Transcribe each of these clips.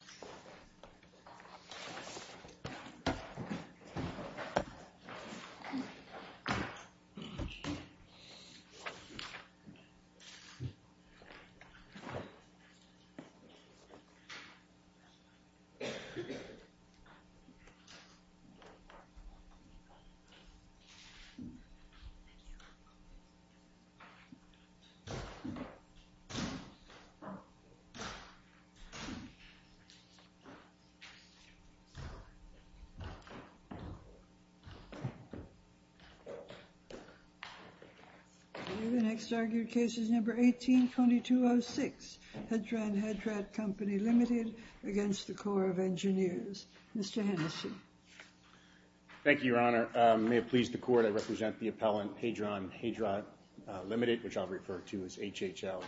The Army Corps of Engineers is a joint venture between the U.S. Army Corps of Engineers and the U.S. Army Corps of Engineers. The next argued case is number 18-2206, Hedran Hejrat Co. Ltd. v. US Army Corps of Engineers. Mr. Hennessy. Thank you, Your Honor. May it please the Court, I represent the appellant Hadron Hejrat Ltd., which I'll refer to as HHL.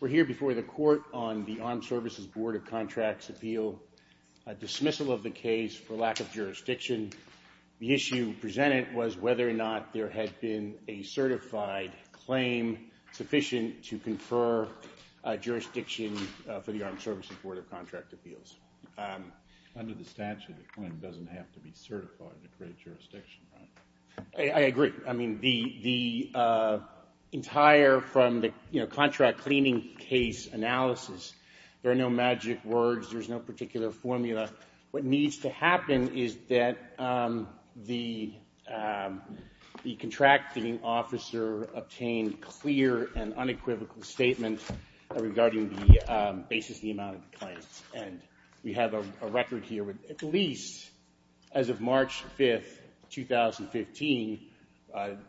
We're here before the Court on the Armed Services Board of Contracts Appeal dismissal of the case for lack of jurisdiction. The issue presented was whether or not there had been a certified claim sufficient to confer jurisdiction for the Armed Services Board of Contract Appeals. Under the statute, the claim doesn't have to be certified to create jurisdiction, right? I agree. I mean, the entire, from the contract cleaning case analysis, there are no magic words, there's no particular formula. What needs to happen is that the contracting officer obtain clear and unequivocal statement regarding the basis of the amount of the claim. We have a record here with at least, as of March 5th, 2015,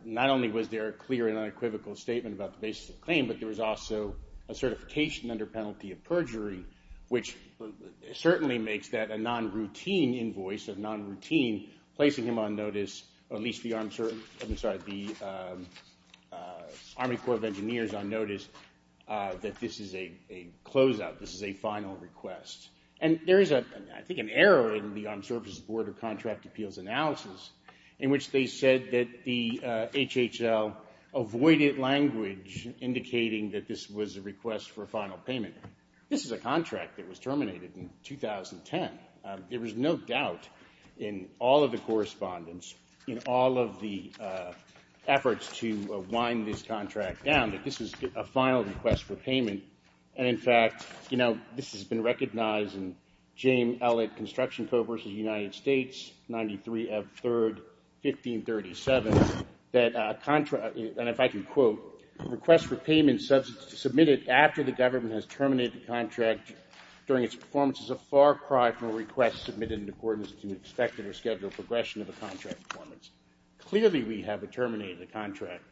not only was there a clear and unequivocal statement about the basis of the claim, but there was also a certification under penalty of perjury, which certainly makes that a non-routine invoice, a non-routine, placing him on notice, or at least the Army Corps of Engineers on notice, that this is a closeout, this is a final request. And there is, I think, an error in the Armed Services Board of Contract Appeals analysis, in which they said that the HHL avoided language indicating that this was a request for a final payment. This is a contract that was terminated in 2010. There was no doubt in all of the correspondence, in all of the efforts to wind this contract down, that this is a final request for payment. And in fact, you know, this has been recognized in James Ellett Construction Co. v. United States, 93 F. 3rd, 1537, that a contract, and if I can quote, a request for payment submitted after the government has terminated the contract during its performance is a far cry from a request submitted in accordance to an expected or scheduled progression of a contract performance. Clearly, we have terminated the contract.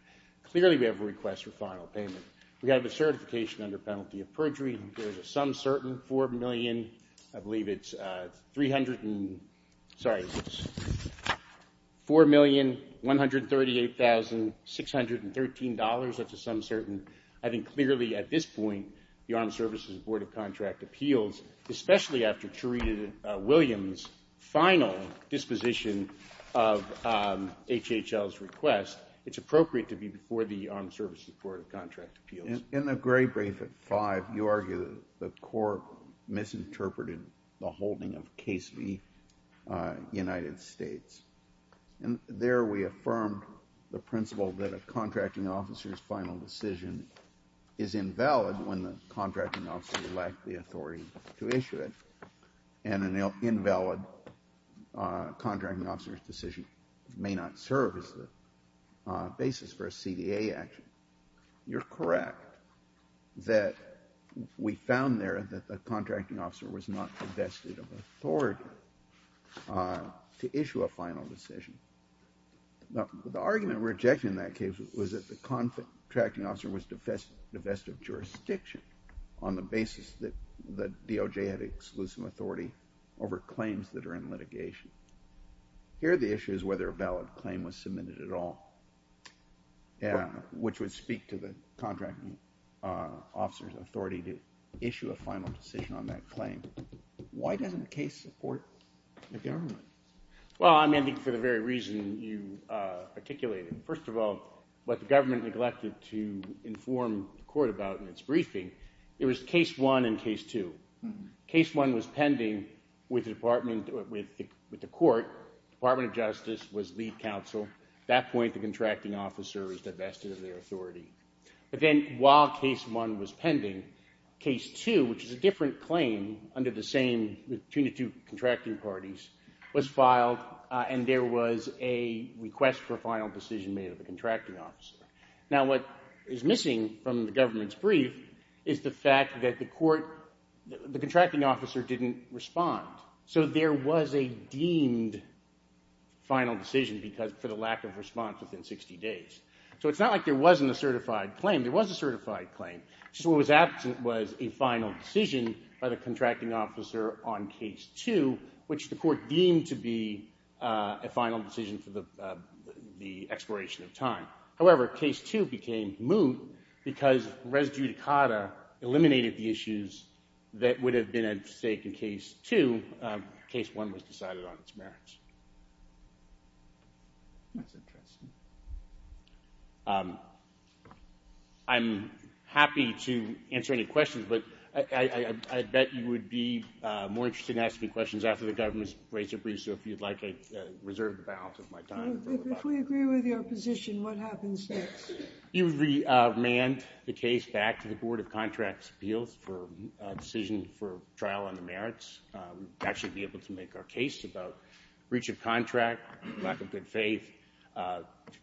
Clearly, we have a request for final payment. We have a certification under penalty of perjury. There is a sum certain, $4,138,613. That's a sum certain. I think clearly, at this point, the Armed Services Board of Contract Appeals, especially after Charita Williams' final disposition of HHL's request, it's appropriate to be before the Armed Services Board of Contract Appeals. In the gray brief at 5, you argue that the court misinterpreted the holding of Case v. United States. And there, we affirmed the principle that a contracting officer's final decision is invalid when the contracting officer lacked the authority to issue it, and an invalid contracting officer's decision may not serve as the basis for a CDA action. You're correct that we found there that the contracting officer was not divested of authority to issue a final decision. Now, the argument rejected in that case was that the contracting officer was divested of jurisdiction on the basis that the DOJ had exclusive authority over claims that are in litigation. Here, the issue is whether a valid claim was submitted at all, which would speak to the contracting officer's authority to issue a final decision on that claim. Why doesn't the case support the government? Well, I'm ending for the very reason you articulated. First of all, what the government neglected to inform the court about in its briefing, it was Case 1 and Case 2. Case 1 was pending with the court. The Department of Justice was lead counsel. At that point, the contracting officer is divested of their authority. But then while Case 1 was pending, Case 2, which is a different claim under the same, between the two contracting parties, was filed, and there was a request for a final decision made of the contracting officer. Now, what is missing from the government's brief is the fact that the contracting officer didn't respond. So there was a deemed final decision for the lack of response within 60 days. So it's not like there wasn't a certified claim. There was a certified claim. Just what was absent was a final decision by the contracting officer on Case 2, which the court deemed to be a final decision for the expiration of time. However, Case 2 became moot because Res Judicata eliminated the issues that would have been at stake in Case 2. Case 1 was decided on its merits. That's interesting. I'm happy to answer any questions, but I bet you would be more interested in asking questions after the government's rates are briefed, so if you'd like, I reserve the balance of my time. If we agree with your position, what happens next? He would remand the case back to the Board of Contracts' Appeals for a decision for trial on the merits. That should be able to make our case about breach of contract, lack of good faith,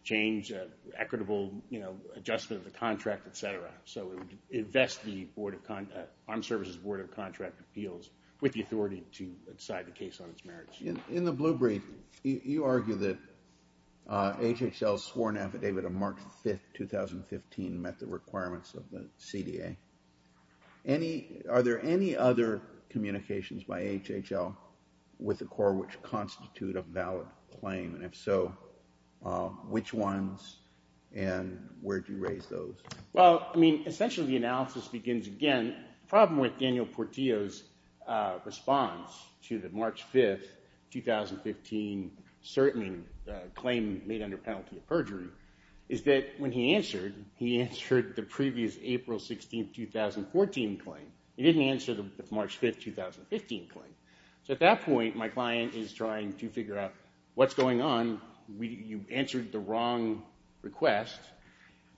change, equitable adjustment of the contract, et cetera. So it would invest the Armed Services Board of Contract Appeals with the authority to decide the case on its merits. In the blue brief, you argue that HHL's sworn affidavit of March 5, 2015 met the requirements of the CDA. Are there any other communications by HHL with the court which constitute a valid claim, and if so, which ones and where do you raise those? Well, I mean, essentially the analysis begins, again, the problem with Daniel Portillo's response to the March 5, 2015 claim made under penalty of perjury is that when he answered, he answered the previous April 16, 2014 claim. He didn't answer the March 5, 2015 claim. So at that point, my client is trying to figure out what's going on. You answered the wrong request,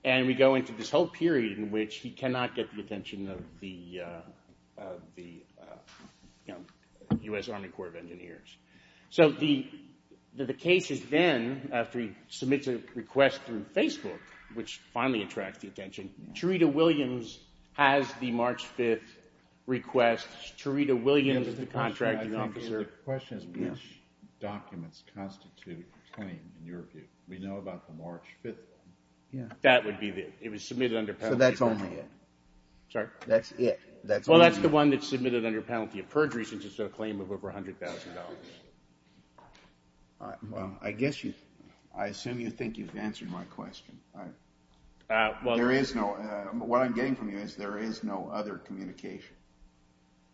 and we go into this whole period in which he cannot get the attention of the U.S. Army Corps of Engineers. So the case is then, after he submits a request through Facebook, which finally attracts the attention, Charita Williams has the March 5 request. Charita Williams is the contracting officer. The question is which documents constitute a claim in your view. We know about the March 5. That would be it. It was submitted under penalty of perjury. So that's only it. Sorry? That's it. Well, that's the one that's submitted under penalty of perjury since it's a claim of over $100,000. Well, I assume you think you've answered my question. What I'm getting from you is there is no other communication,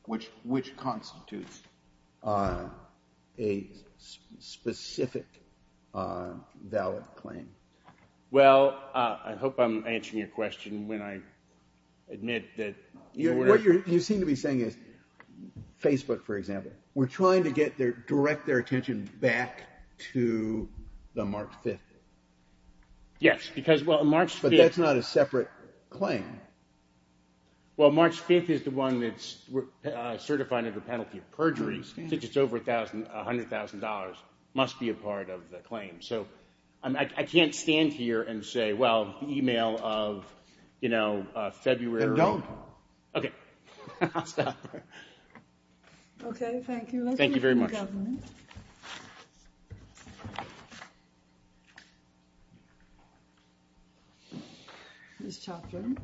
which constitutes a specific valid claim. Well, I hope I'm answering your question when I admit that you were. What you seem to be saying is Facebook, for example, were trying to get their direct their attention back to the March 5. Yes, because well, March 5. But that's not a separate claim. Well, March 5 is the one that's certified under penalty of perjury since it's over $100,000. It must be a part of the claim. So I can't stand here and say, well, the email of, you know, February. Then don't. Okay. I'll stop there. Okay. Thank you. Thank you very much. Thank you, Your Honor. Ms. Chopra.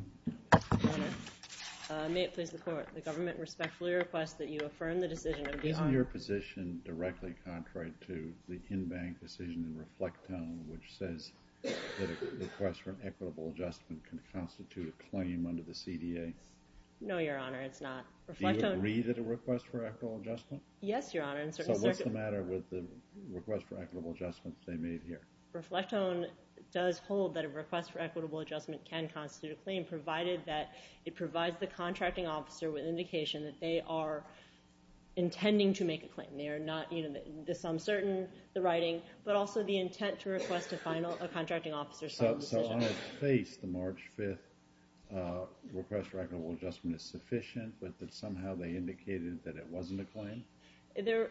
May it please the Court, the government respectfully request that you affirm the decision of- Is it your position directly contrary to the in-bank decision for reflect-own, which says that request for an equitable adjustment can constitute a claim under the CDA? No, Your Honor. It's not. Reflect-own- Do you agree that the request for equitable adjustment? Yes, Your Honor. In certain circumstances- So what's the matter with the request for equitable adjustment they made here? Reflect-own does hold that a request for equitable adjustment can constitute a claim, provided that it provides the contracting officer with indication that they are intending to make a claim. They are not, you know, this I'm certain, the writing, but also the intent to request a final- a contracting officer's final decision. So on its face, the March 5th request for equitable adjustment is sufficient, but that somehow they indicated that it wasn't a claim?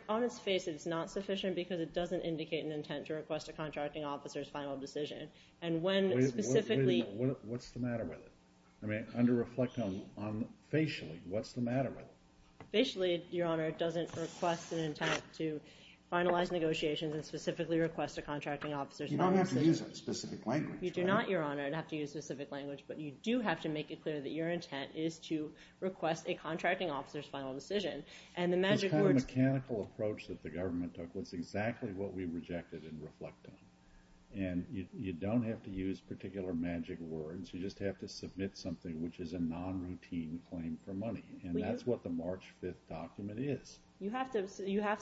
On its face, it's not sufficient because it doesn't indicate an intent to request a contracting officer's final decision. And when specifically- Wait a minute. What's the matter with it? Under reflect-own, facially, what's the matter with it? Facially, Your Honor, it doesn't request an intent to finalize negotiations and specifically request a contracting officer's final decision. You don't have to use that specific language. You do not, Your Honor, have to use specific language, but you do have to make it clear that your intent is to request a contracting officer's final decision. And the magic words- This kind of mechanical approach that the government took was exactly what we rejected in reflect-own. And you don't have to use particular magic words. You just have to submit something which is a non-routine claim for money, and that's what the March 5th document is. You have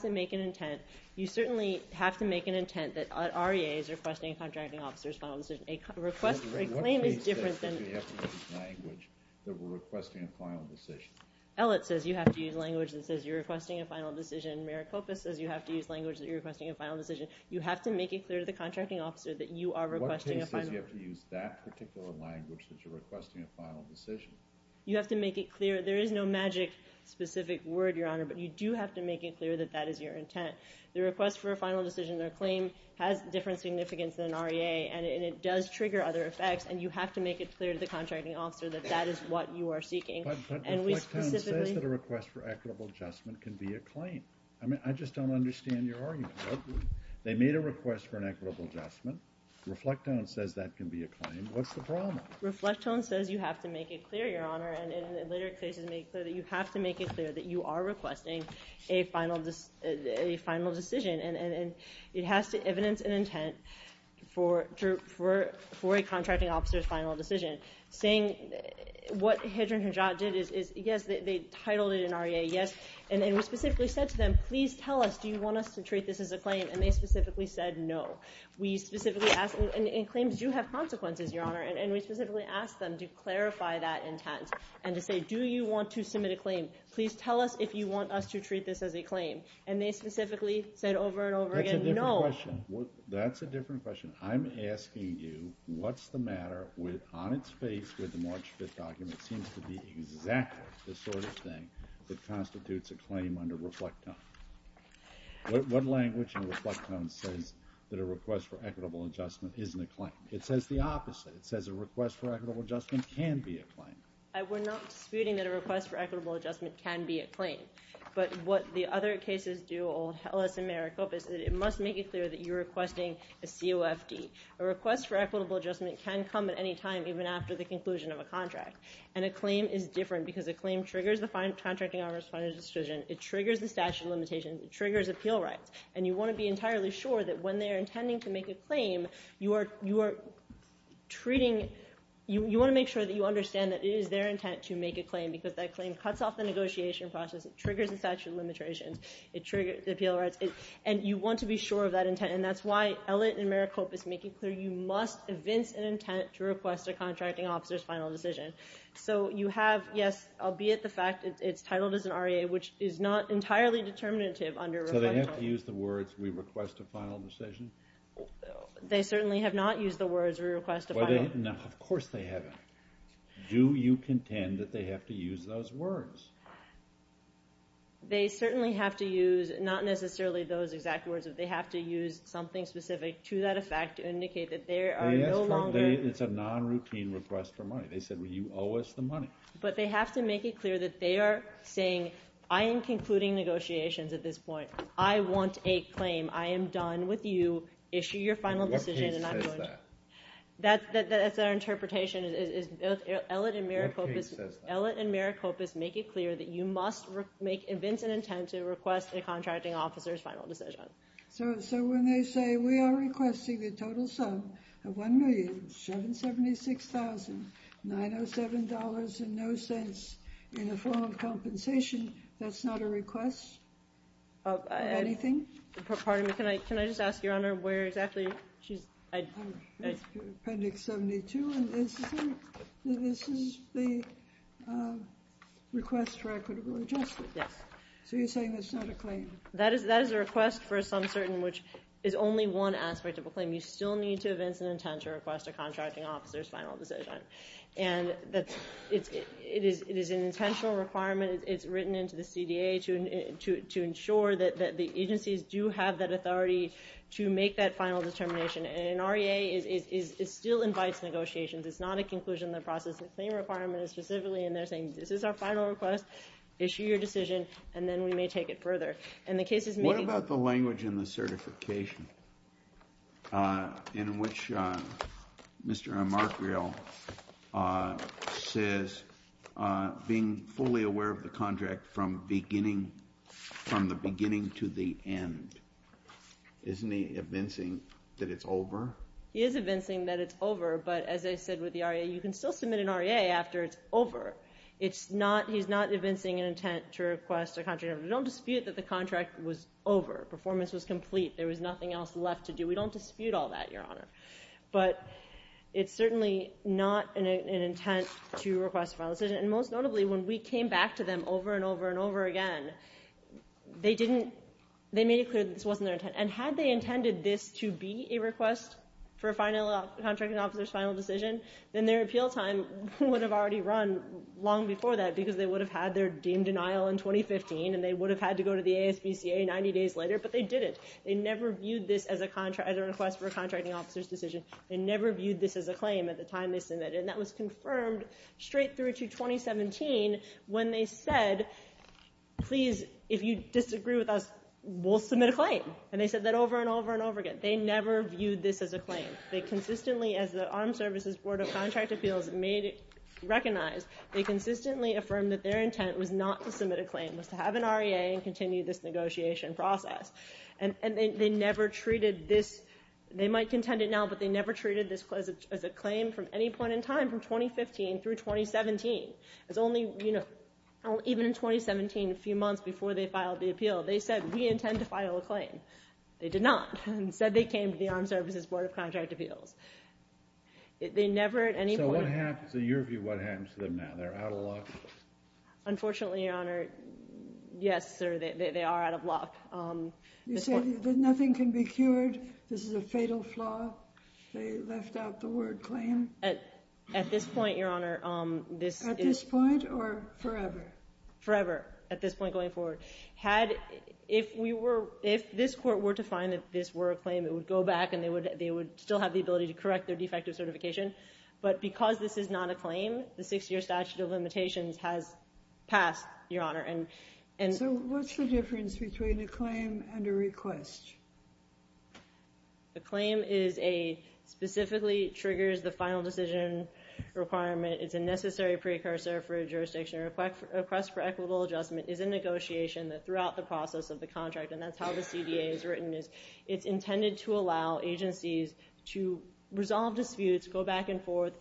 to make an intent. You certainly have to make an intent that REA is requesting a contracting officer's final decision. A claim is different than- ELLIT says you have to use language that says you're requesting a final decision. Maricopa says you have to use language that you're requesting a final decision. You have to make it clear to the contracting officer that you are requesting a final- You have to make it clear. There is no magic, specific word, Your Honor, but you do have to make it clear that that is your intent. The request for a final decision claim has different significance than REA, and it does trigger other effects, and you have to make it clear to the contracting officer that that is what you are seeking. But Reflectone says that a request for equitable adjustment can be a claim. I mean, I just don't understand your argument. I agree. They made a request for an equitable adjustment. Reflectone says that can be a claim. What's the problem? Reflectone says you have to make it clear, Your Honor, and in later cases make it clear that you have to make it clear that you are requesting a final decision, and it has to evidence an intent for a contracting officer's final decision. What Hedren and Hadjot did is, yes, they titled it in REA, yes, and we specifically said to them, please tell us, do you want us to treat this as a claim, and they specifically said no. We specifically asked them, and claims do have consequences, Your Honor, and we specifically asked them to clarify that intent and to say, do you want to submit a claim? Please tell us if you want us to treat this as a claim. And they specifically said over and over again no. That's a different question. That's a different question. I'm asking you what's the matter on its face with the March 5th document seems to be exactly the sort of thing that constitutes a claim under Reflectone. What language in Reflectone says that a request for equitable adjustment isn't a claim? It says the opposite. It says a request for equitable adjustment can be a claim. We're not disputing that a request for equitable adjustment can be a claim, but what the other cases do, OLS and Maricopa, is that it must make it clear that you're requesting a COFD. A request for equitable adjustment can come at any time, even after the conclusion of a contract, and a claim is different because a claim triggers the contracting officer's decision. It triggers the statute of limitations. It triggers appeal rights, and you want to be entirely sure that when they're intending to make a claim, because that claim cuts off the negotiation process, it triggers the statute of limitations, it triggers the appeal rights, and you want to be sure of that intent, and that's why Elliott and Maricopa is making clear you must evince an intent to request a contracting officer's final decision. So you have, yes, albeit the fact it's titled as an REA, which is not entirely determinative under Reflectone. So they have to use the words we request a final decision? They certainly have not used the words we request a final decision. No, of course they haven't. Do you contend that they have to use those words? They certainly have to use not necessarily those exact words, but they have to use something specific to that effect to indicate that there are no longer It's a non-routine request for money. They said, well, you owe us the money. But they have to make it clear that they are saying, I am concluding negotiations at this point. I want a claim. I am done with you. Issue your final decision and I'm going to What case says that? That's our interpretation. Ellett and Maricopas make it clear that you must evince an intent to request a contracting officer's final decision. So when they say we are requesting the total sum of $1,776,907 in no sense in the form of compensation, that's not a request of anything? Pardon me, can I just ask, Your Honor, where exactly? Appendix 72, and this is the request for equitable adjustment? Yes. So you're saying that's not a claim? That is a request for a sum certain, which is only one aspect of a claim. You still need to evince an intent to request a contracting officer's final decision. And it is an intentional requirement. It's written into the CDA to ensure that the agencies do have that authority to make that final determination. And an REA still invites negotiations. It's not a conclusion in the process. The claim requirement is specifically in there saying, this is our final request, issue your decision, and then we may take it further. And the case is meeting What about the language in the certification in which Mr. Amarquial says being fully aware of the contract from the beginning to the end? Isn't he evincing that it's over? He is evincing that it's over, but as I said with the REA, you can still submit an REA after it's over. He's not evincing an intent to request a contracting officer's final decision. We don't dispute that the contract was over. Performance was complete. There was nothing else left to do. We don't dispute all that, Your Honor. But it's certainly not an intent to request a final decision. And most notably, when we came back to them over and over and over again, they made it clear that this wasn't their intent. And had they intended this to be a request for a contracting officer's final decision, then their appeal time would have already run long before that because they would have had their deemed denial in 2015, and they would have had to go to the ASPCA 90 days later, but they didn't. They never viewed this as a request for a contracting officer's decision. They never viewed this as a claim at the time they submitted it, and that was confirmed straight through to 2017 when they said, please, if you disagree with us, we'll submit a claim. And they said that over and over and over again. They never viewed this as a claim. They consistently, as the Armed Services Board of Contract Appeals recognized, they consistently affirmed that their intent was not to submit a claim, was to have an REA and continue this negotiation process. And they never treated this, they might contend it now, but they never treated this as a claim from any point in time from 2015 through 2017. It was only, you know, even in 2017, a few months before they filed the appeal, they said we intend to file a claim. They did not. Instead, they came to the Armed Services Board of Contract Appeals. They never at any point. So what happens, in your view, what happens to them now? They're out of luck? Unfortunately, Your Honor, yes, sir, they are out of luck. You say that nothing can be cured? This is a fatal flaw? They left out the word claim? At this point, Your Honor, this is— At this point or forever? Forever, at this point going forward. Had, if we were, if this court were to find that this were a claim, it would go back and they would still have the ability to correct their defective certification. But because this is not a claim, the six-year statute of limitations has passed, Your Honor. So what's the difference between a claim and a request? A claim is a—specifically triggers the final decision requirement. It's a necessary precursor for a jurisdiction request for equitable adjustment. It's a negotiation that throughout the process of the contract, and that's how the CDA is written, it's intended to allow agencies to resolve disputes, go back and forth,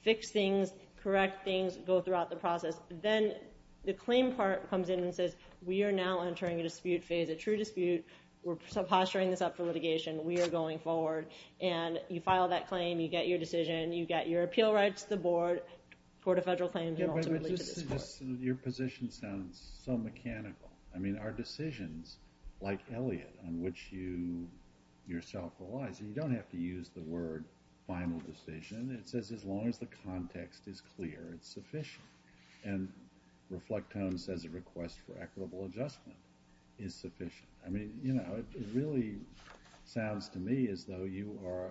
fix things, correct things, go throughout the process. Then the claim part comes in and says, we are now entering a dispute phase, a true dispute. We're posturing this up for litigation. We are going forward. And you file that claim, you get your decision, you get your appeal right to the board, court of federal claims, and ultimately to this court. Your position sounds so mechanical. I mean, our decisions, like Elliot, on which you yourself rely, so you don't have to use the word final decision. It says as long as the context is clear, it's sufficient. And Reflectome says a request for equitable adjustment is sufficient. I mean, you know, it really sounds to me as though you are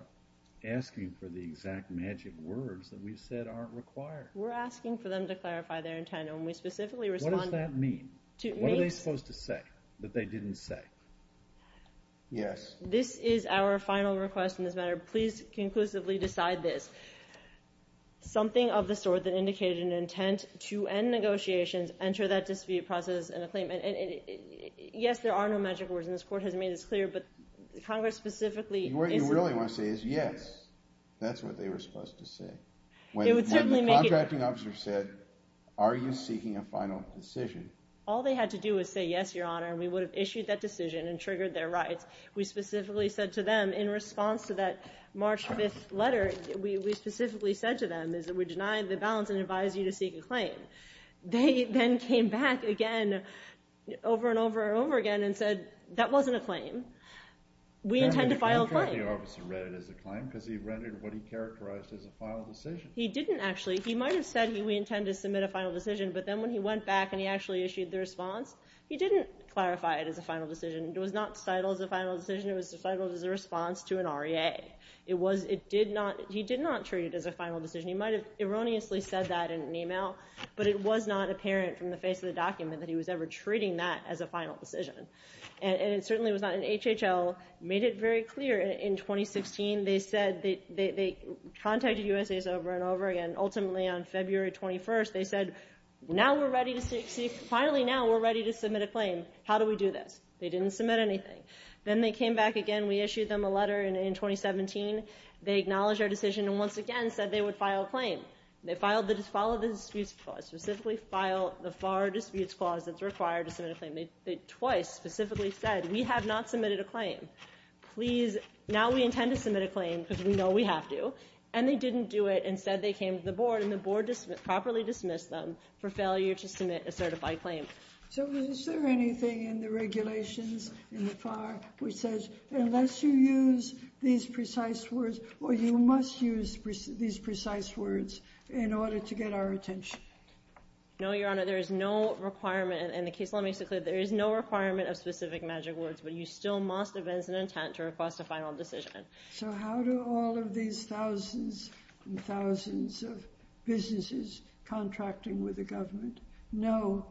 asking for the exact magic words that we've said aren't required. We're asking for them to clarify their intent, and we specifically respond— What does that mean? What are they supposed to say that they didn't say? Yes. This is our final request in this matter. Please conclusively decide this. Something of the sort that indicated an intent to end negotiations, enter that dispute process in a claim. Yes, there are no magic words, and this court has made this clear, but Congress specifically— What you really want to say is yes. That's what they were supposed to say. When the contracting officer said, are you seeking a final decision? All they had to do was say yes, Your Honor, and we would have issued that decision and triggered their rights. We specifically said to them in response to that March 5th letter, we specifically said to them, we deny the balance and advise you to seek a claim. They then came back again, over and over and over again, and said that wasn't a claim. We intend to file a claim. The contracting officer read it as a claim because he read it what he characterized as a final decision. He didn't actually. He might have said we intend to submit a final decision, but then when he went back and he actually issued the response, he didn't clarify it as a final decision. It was not titled as a final decision. It was titled as a response to an REA. He did not treat it as a final decision. He might have erroneously said that in an email, but it was not apparent from the face of the document that he was ever treating that as a final decision. It certainly was not. And HHL made it very clear in 2016. They said they contacted USAIS over and over again. And ultimately on February 21st, they said, finally now we're ready to submit a claim. How do we do this? They didn't submit anything. Then they came back again. We issued them a letter in 2017. They acknowledged our decision and once again said they would file a claim. They filed the dispute clause, specifically filed the FAR disputes clause that's required to submit a claim. They twice specifically said we have not submitted a claim. Please, now we intend to submit a claim because we know we have to. And they didn't do it. Instead they came to the board, and the board properly dismissed them for failure to submit a certified claim. So is there anything in the regulations in the FAR which says unless you use these precise words, or you must use these precise words in order to get our attention? No, Your Honor. There is no requirement. And the case law makes it clear there is no requirement of specific magic words, but you still must advance an intent to request a final decision. So how do all of these thousands and thousands of businesses contracting with the government know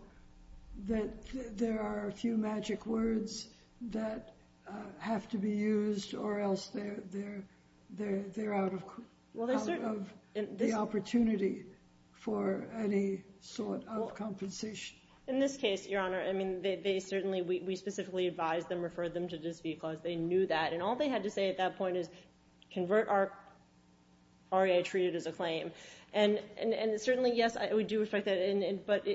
that there are a few magic words that have to be used or else they're out of the opportunity for any sort of compensation? In this case, Your Honor, we specifically advised them, referred them to the dispute clause. They knew that. And all they had to say at that point is, convert our RA treated as a claim. And certainly, yes, we do respect that. But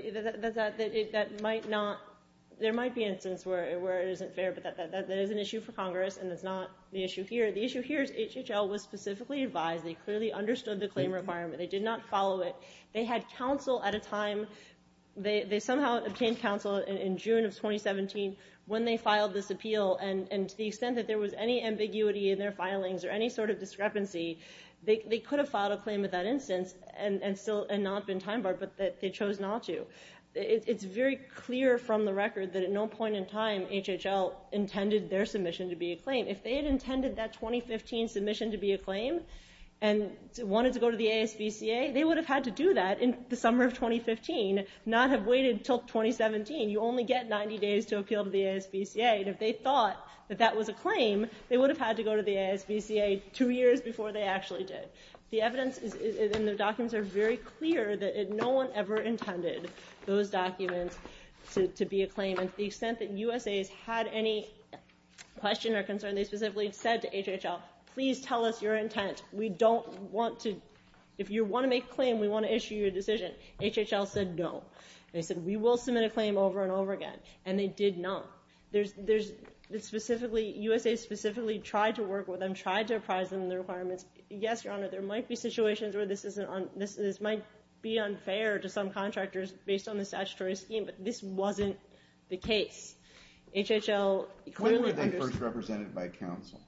there might be instances where it isn't fair, but that is an issue for Congress, and it's not the issue here. The issue here is HHL was specifically advised. They clearly understood the claim requirement. They did not follow it. They had counsel at a time. They somehow obtained counsel in June of 2017 when they filed this appeal. And to the extent that there was any ambiguity in their filings or any sort of discrepancy, they could have filed a claim at that instance and not been time-barred, but they chose not to. It's very clear from the record that at no point in time, HHL intended their submission to be a claim. If they had intended that 2015 submission to be a claim and wanted to go to the ASVCA, they would have had to do that in the summer of 2015, not have waited until 2017. You only get 90 days to appeal to the ASVCA. And if they thought that that was a claim, they would have had to go to the ASVCA two years before they actually did. The evidence in the documents are very clear that no one ever intended those documents to be a claim. And to the extent that USA has had any question or concern, they specifically said to HHL, please tell us your intent. We don't want to... If you want to make a claim, we want to issue you a decision. HHL said no. They said we will submit a claim over and over again, and they did not. USA specifically tried to work with them, tried to apprise them of the requirements. Yes, Your Honor, there might be situations where this might be unfair to some contractors based on the statutory scheme, but this wasn't the case. HHL clearly... When were they first represented by counsel?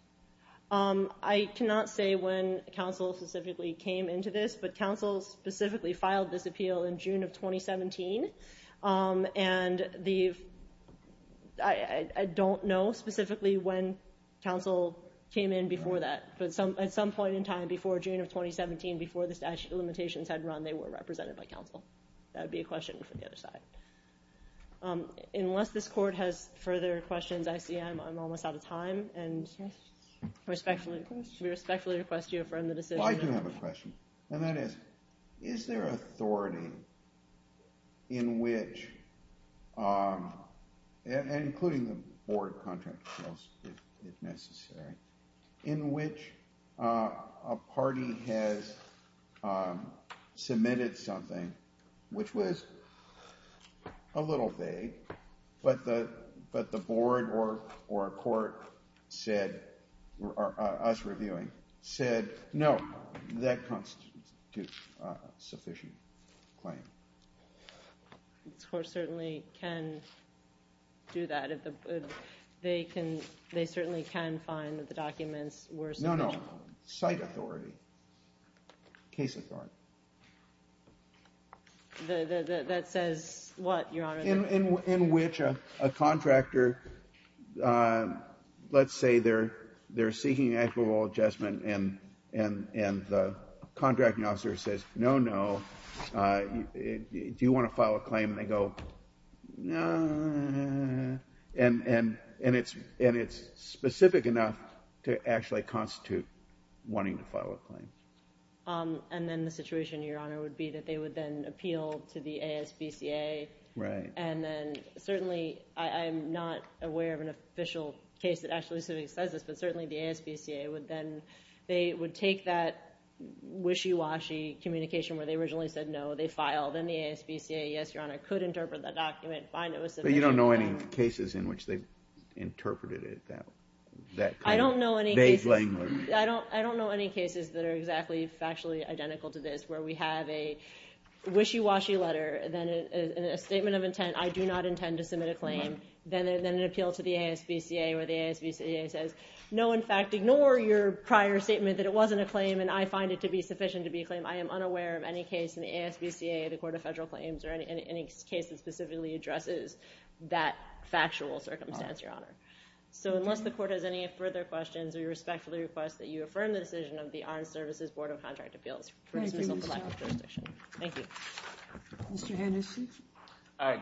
I cannot say when counsel specifically came into this, but counsel specifically filed this appeal in June of 2017. And the... I don't know specifically when counsel came in before that, but at some point in time, before June of 2017, before the statute of limitations had run, they were represented by counsel. That would be a question for the other side. Unless this court has further questions, ICM, I'm almost out of time, and we respectfully request you affirm the decision. I do have a question, and that is, is there authority in which... including the board contract, if necessary, in which a party has submitted something, which was a little vague, but the board or a court said... or us reviewing said, no, that constitutes a sufficient claim. This court certainly can do that. They certainly can find that the documents were sufficient. No, no. Site authority. Case authority. That says what, Your Honor? In which a contractor, let's say they're seeking equitable adjustment and the contracting officer says, no, no. Do you want to file a claim? And they go, no. And it's specific enough to actually constitute wanting to file a claim. And then the situation, Your Honor, would be that they would then appeal to the ASBCA. Right. And then certainly I'm not aware of an official case that actually says this, but certainly the ASBCA would then... they would take that wishy-washy communication where they originally said, no, they filed, and the ASBCA, yes, Your Honor, could interpret that document, find it was sufficient. But you don't know any cases in which they interpreted it that... I don't know any cases... ...that kind of vague language. I don't know any cases that are exactly factually identical to this where we have a wishy-washy letter, then a statement of intent, I do not intend to submit a claim, then an appeal to the ASBCA where the ASBCA says, no, in fact, ignore your prior statement that it wasn't a claim and I find it to be sufficient to be a claim. I am unaware of any case in the ASBCA, the Court of Federal Claims, or any case that specifically addresses that factual circumstance, Your Honor. So unless the Court has any further questions, I respectfully request that you affirm the decision of the Armed Services Board of Contract Appeals for dismissal of the lack of jurisdiction. Thank you. Mr. Henderson?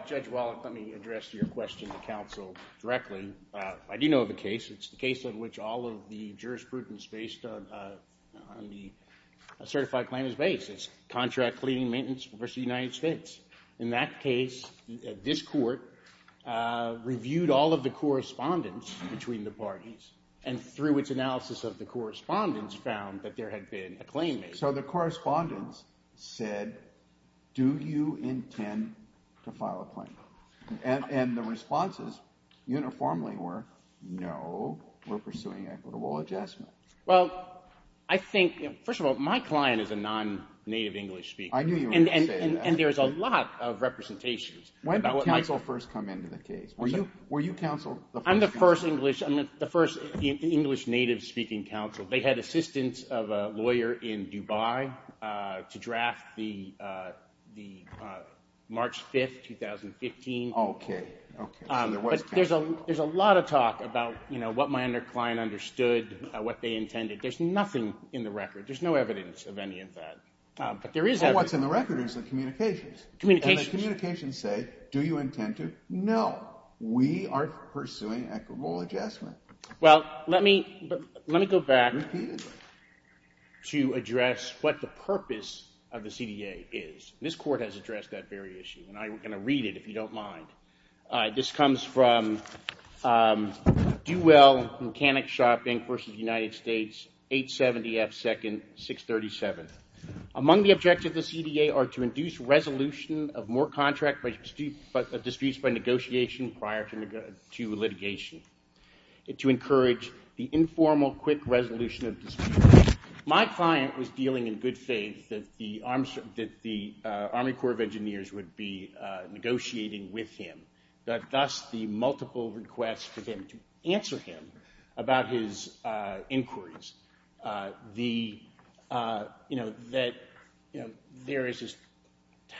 Judge Wallach, let me address your question to counsel directly. I do know of a case. It's the case in which all of the jurisprudence based on the certified claim is based. It's Contract Cleaning Maintenance v. United States. In that case, this Court reviewed all of the correspondence between the parties, and through its analysis of the correspondence found that there had been a claim made. So the correspondence said, do you intend to file a claim? And the responses uniformly were, no, we're pursuing equitable adjustment. Well, I think, first of all, my client is a non-native English speaker. I knew you were going to say that. And there's a lot of representations. When did counsel first come into the case? Were you counsel the first time? They had assistance of a lawyer in Dubai to draft the March 5, 2015. Okay. But there's a lot of talk about what my client understood, what they intended. There's nothing in the record. There's no evidence of any of that. What's in the record is the communications. And the communications say, do you intend to? No, we are pursuing equitable adjustment. Well, let me go back... Repeatedly. ...to address what the purpose of the CDA is. This court has addressed that very issue, and I'm going to read it, if you don't mind. This comes from Do Well Mechanic Shopping v. United States, 870 F. 2nd, 637. Among the objectives of the CDA are to induce resolution of more contract disputes by negotiation prior to litigation, and to encourage the informal quick resolution of disputes. My client was dealing in good faith that the Army Corps of Engineers would be negotiating with him, thus the multiple requests for him to answer him about his inquiries. The, you know, that there is this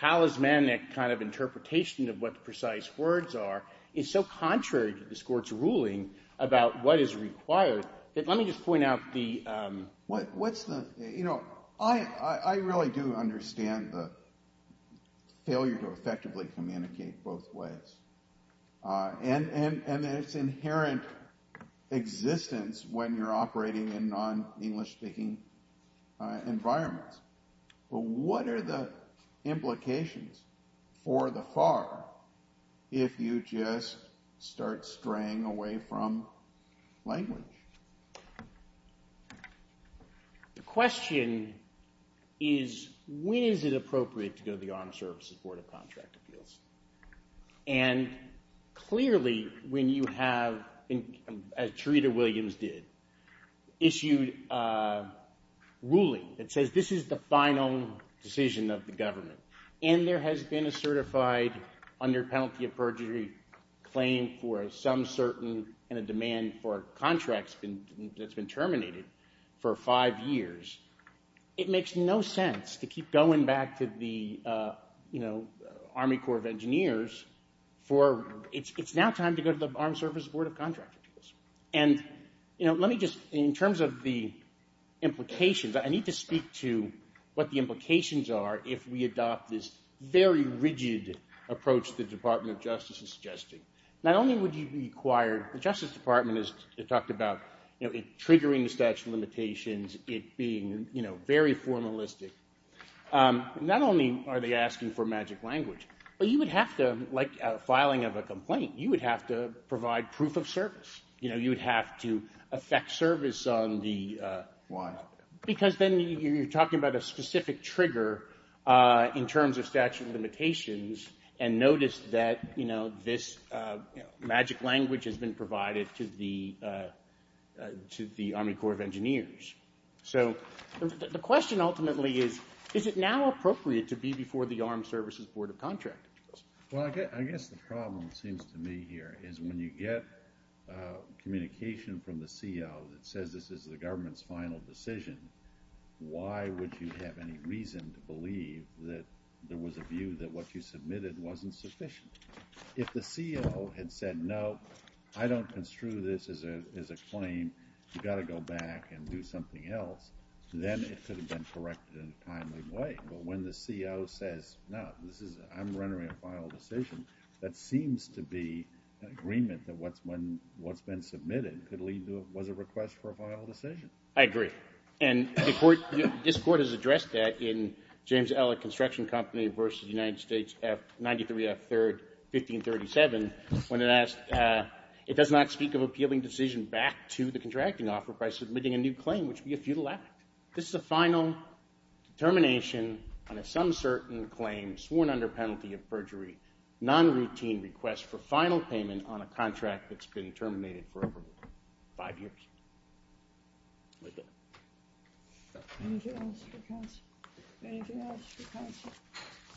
talismanic kind of interpretation of what the precise words are is so contrary to this court's ruling about what is required Let me just point out the... What's the... You know, I really do understand the failure to effectively communicate both ways, and its inherent existence when you're operating in non-English speaking environments. But what are the implications for the FAR if you just start straying away from language? The question is, when is it appropriate to go to the Armed Services Board of Contract Appeals? And clearly, when you have, as Charita Williams did, issued a ruling that says, this is the final decision of the government, and there has been a certified, under penalty of perjury, claim for some certain, and a demand for contracts that's been terminated for five years, it makes no sense to keep going back to the Army Corps of Engineers for... It's now time to go to the Armed Services Board of Contract Appeals. And, you know, let me just... In terms of the implications, I need to speak to what the implications are if we adopt this very rigid approach the Department of Justice is suggesting. Not only would you require... The Justice Department has talked about triggering the statute of limitations, it being, you know, very formalistic. Not only are they asking for magic language, but you would have to, like filing of a complaint, you would have to provide proof of service. You know, you would have to effect service on the... Because then you're talking about a specific trigger in terms of statute of limitations, and notice that, you know, this magic language has been provided to the Army Corps of Engineers. So the question ultimately is, is it now appropriate to be before the Armed Services Board of Contract Appeals? Well, I guess the problem, it seems to me here, is when you get communication from the CO that says this is the government's final decision, why would you have any reason to believe that there was a view that what you submitted wasn't sufficient? If the CO had said, no, I don't construe this as a claim, you've got to go back and do something else, then it could have been corrected in a timely way. But when the CO says, no, I'm rendering a final decision, that seems to be an agreement that what's been submitted could lead to what was a request for a final decision. I agree. And this Court has addressed that in James Ellett Construction Company v. United States, 93 F. 3rd, 1537, when it asked, it does not speak of appealing decision back to the contracting offer by submitting a new claim, which would be a futile act. This is a final determination on a some certain claim sworn under penalty of perjury, non-routine request for final payment on a contract that's been terminated forever. Five years. That's it. Anything else for counsel? Anything else for counsel?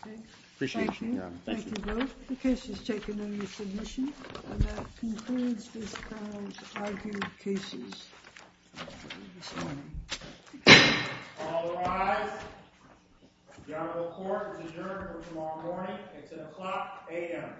Thank you. Thank you, Your Honor. Thank you both. The case is taken under submission. And that concludes this panel's argued cases this morning. All rise. The Honorable Court is adjourned for tomorrow morning at 10 o'clock a.m.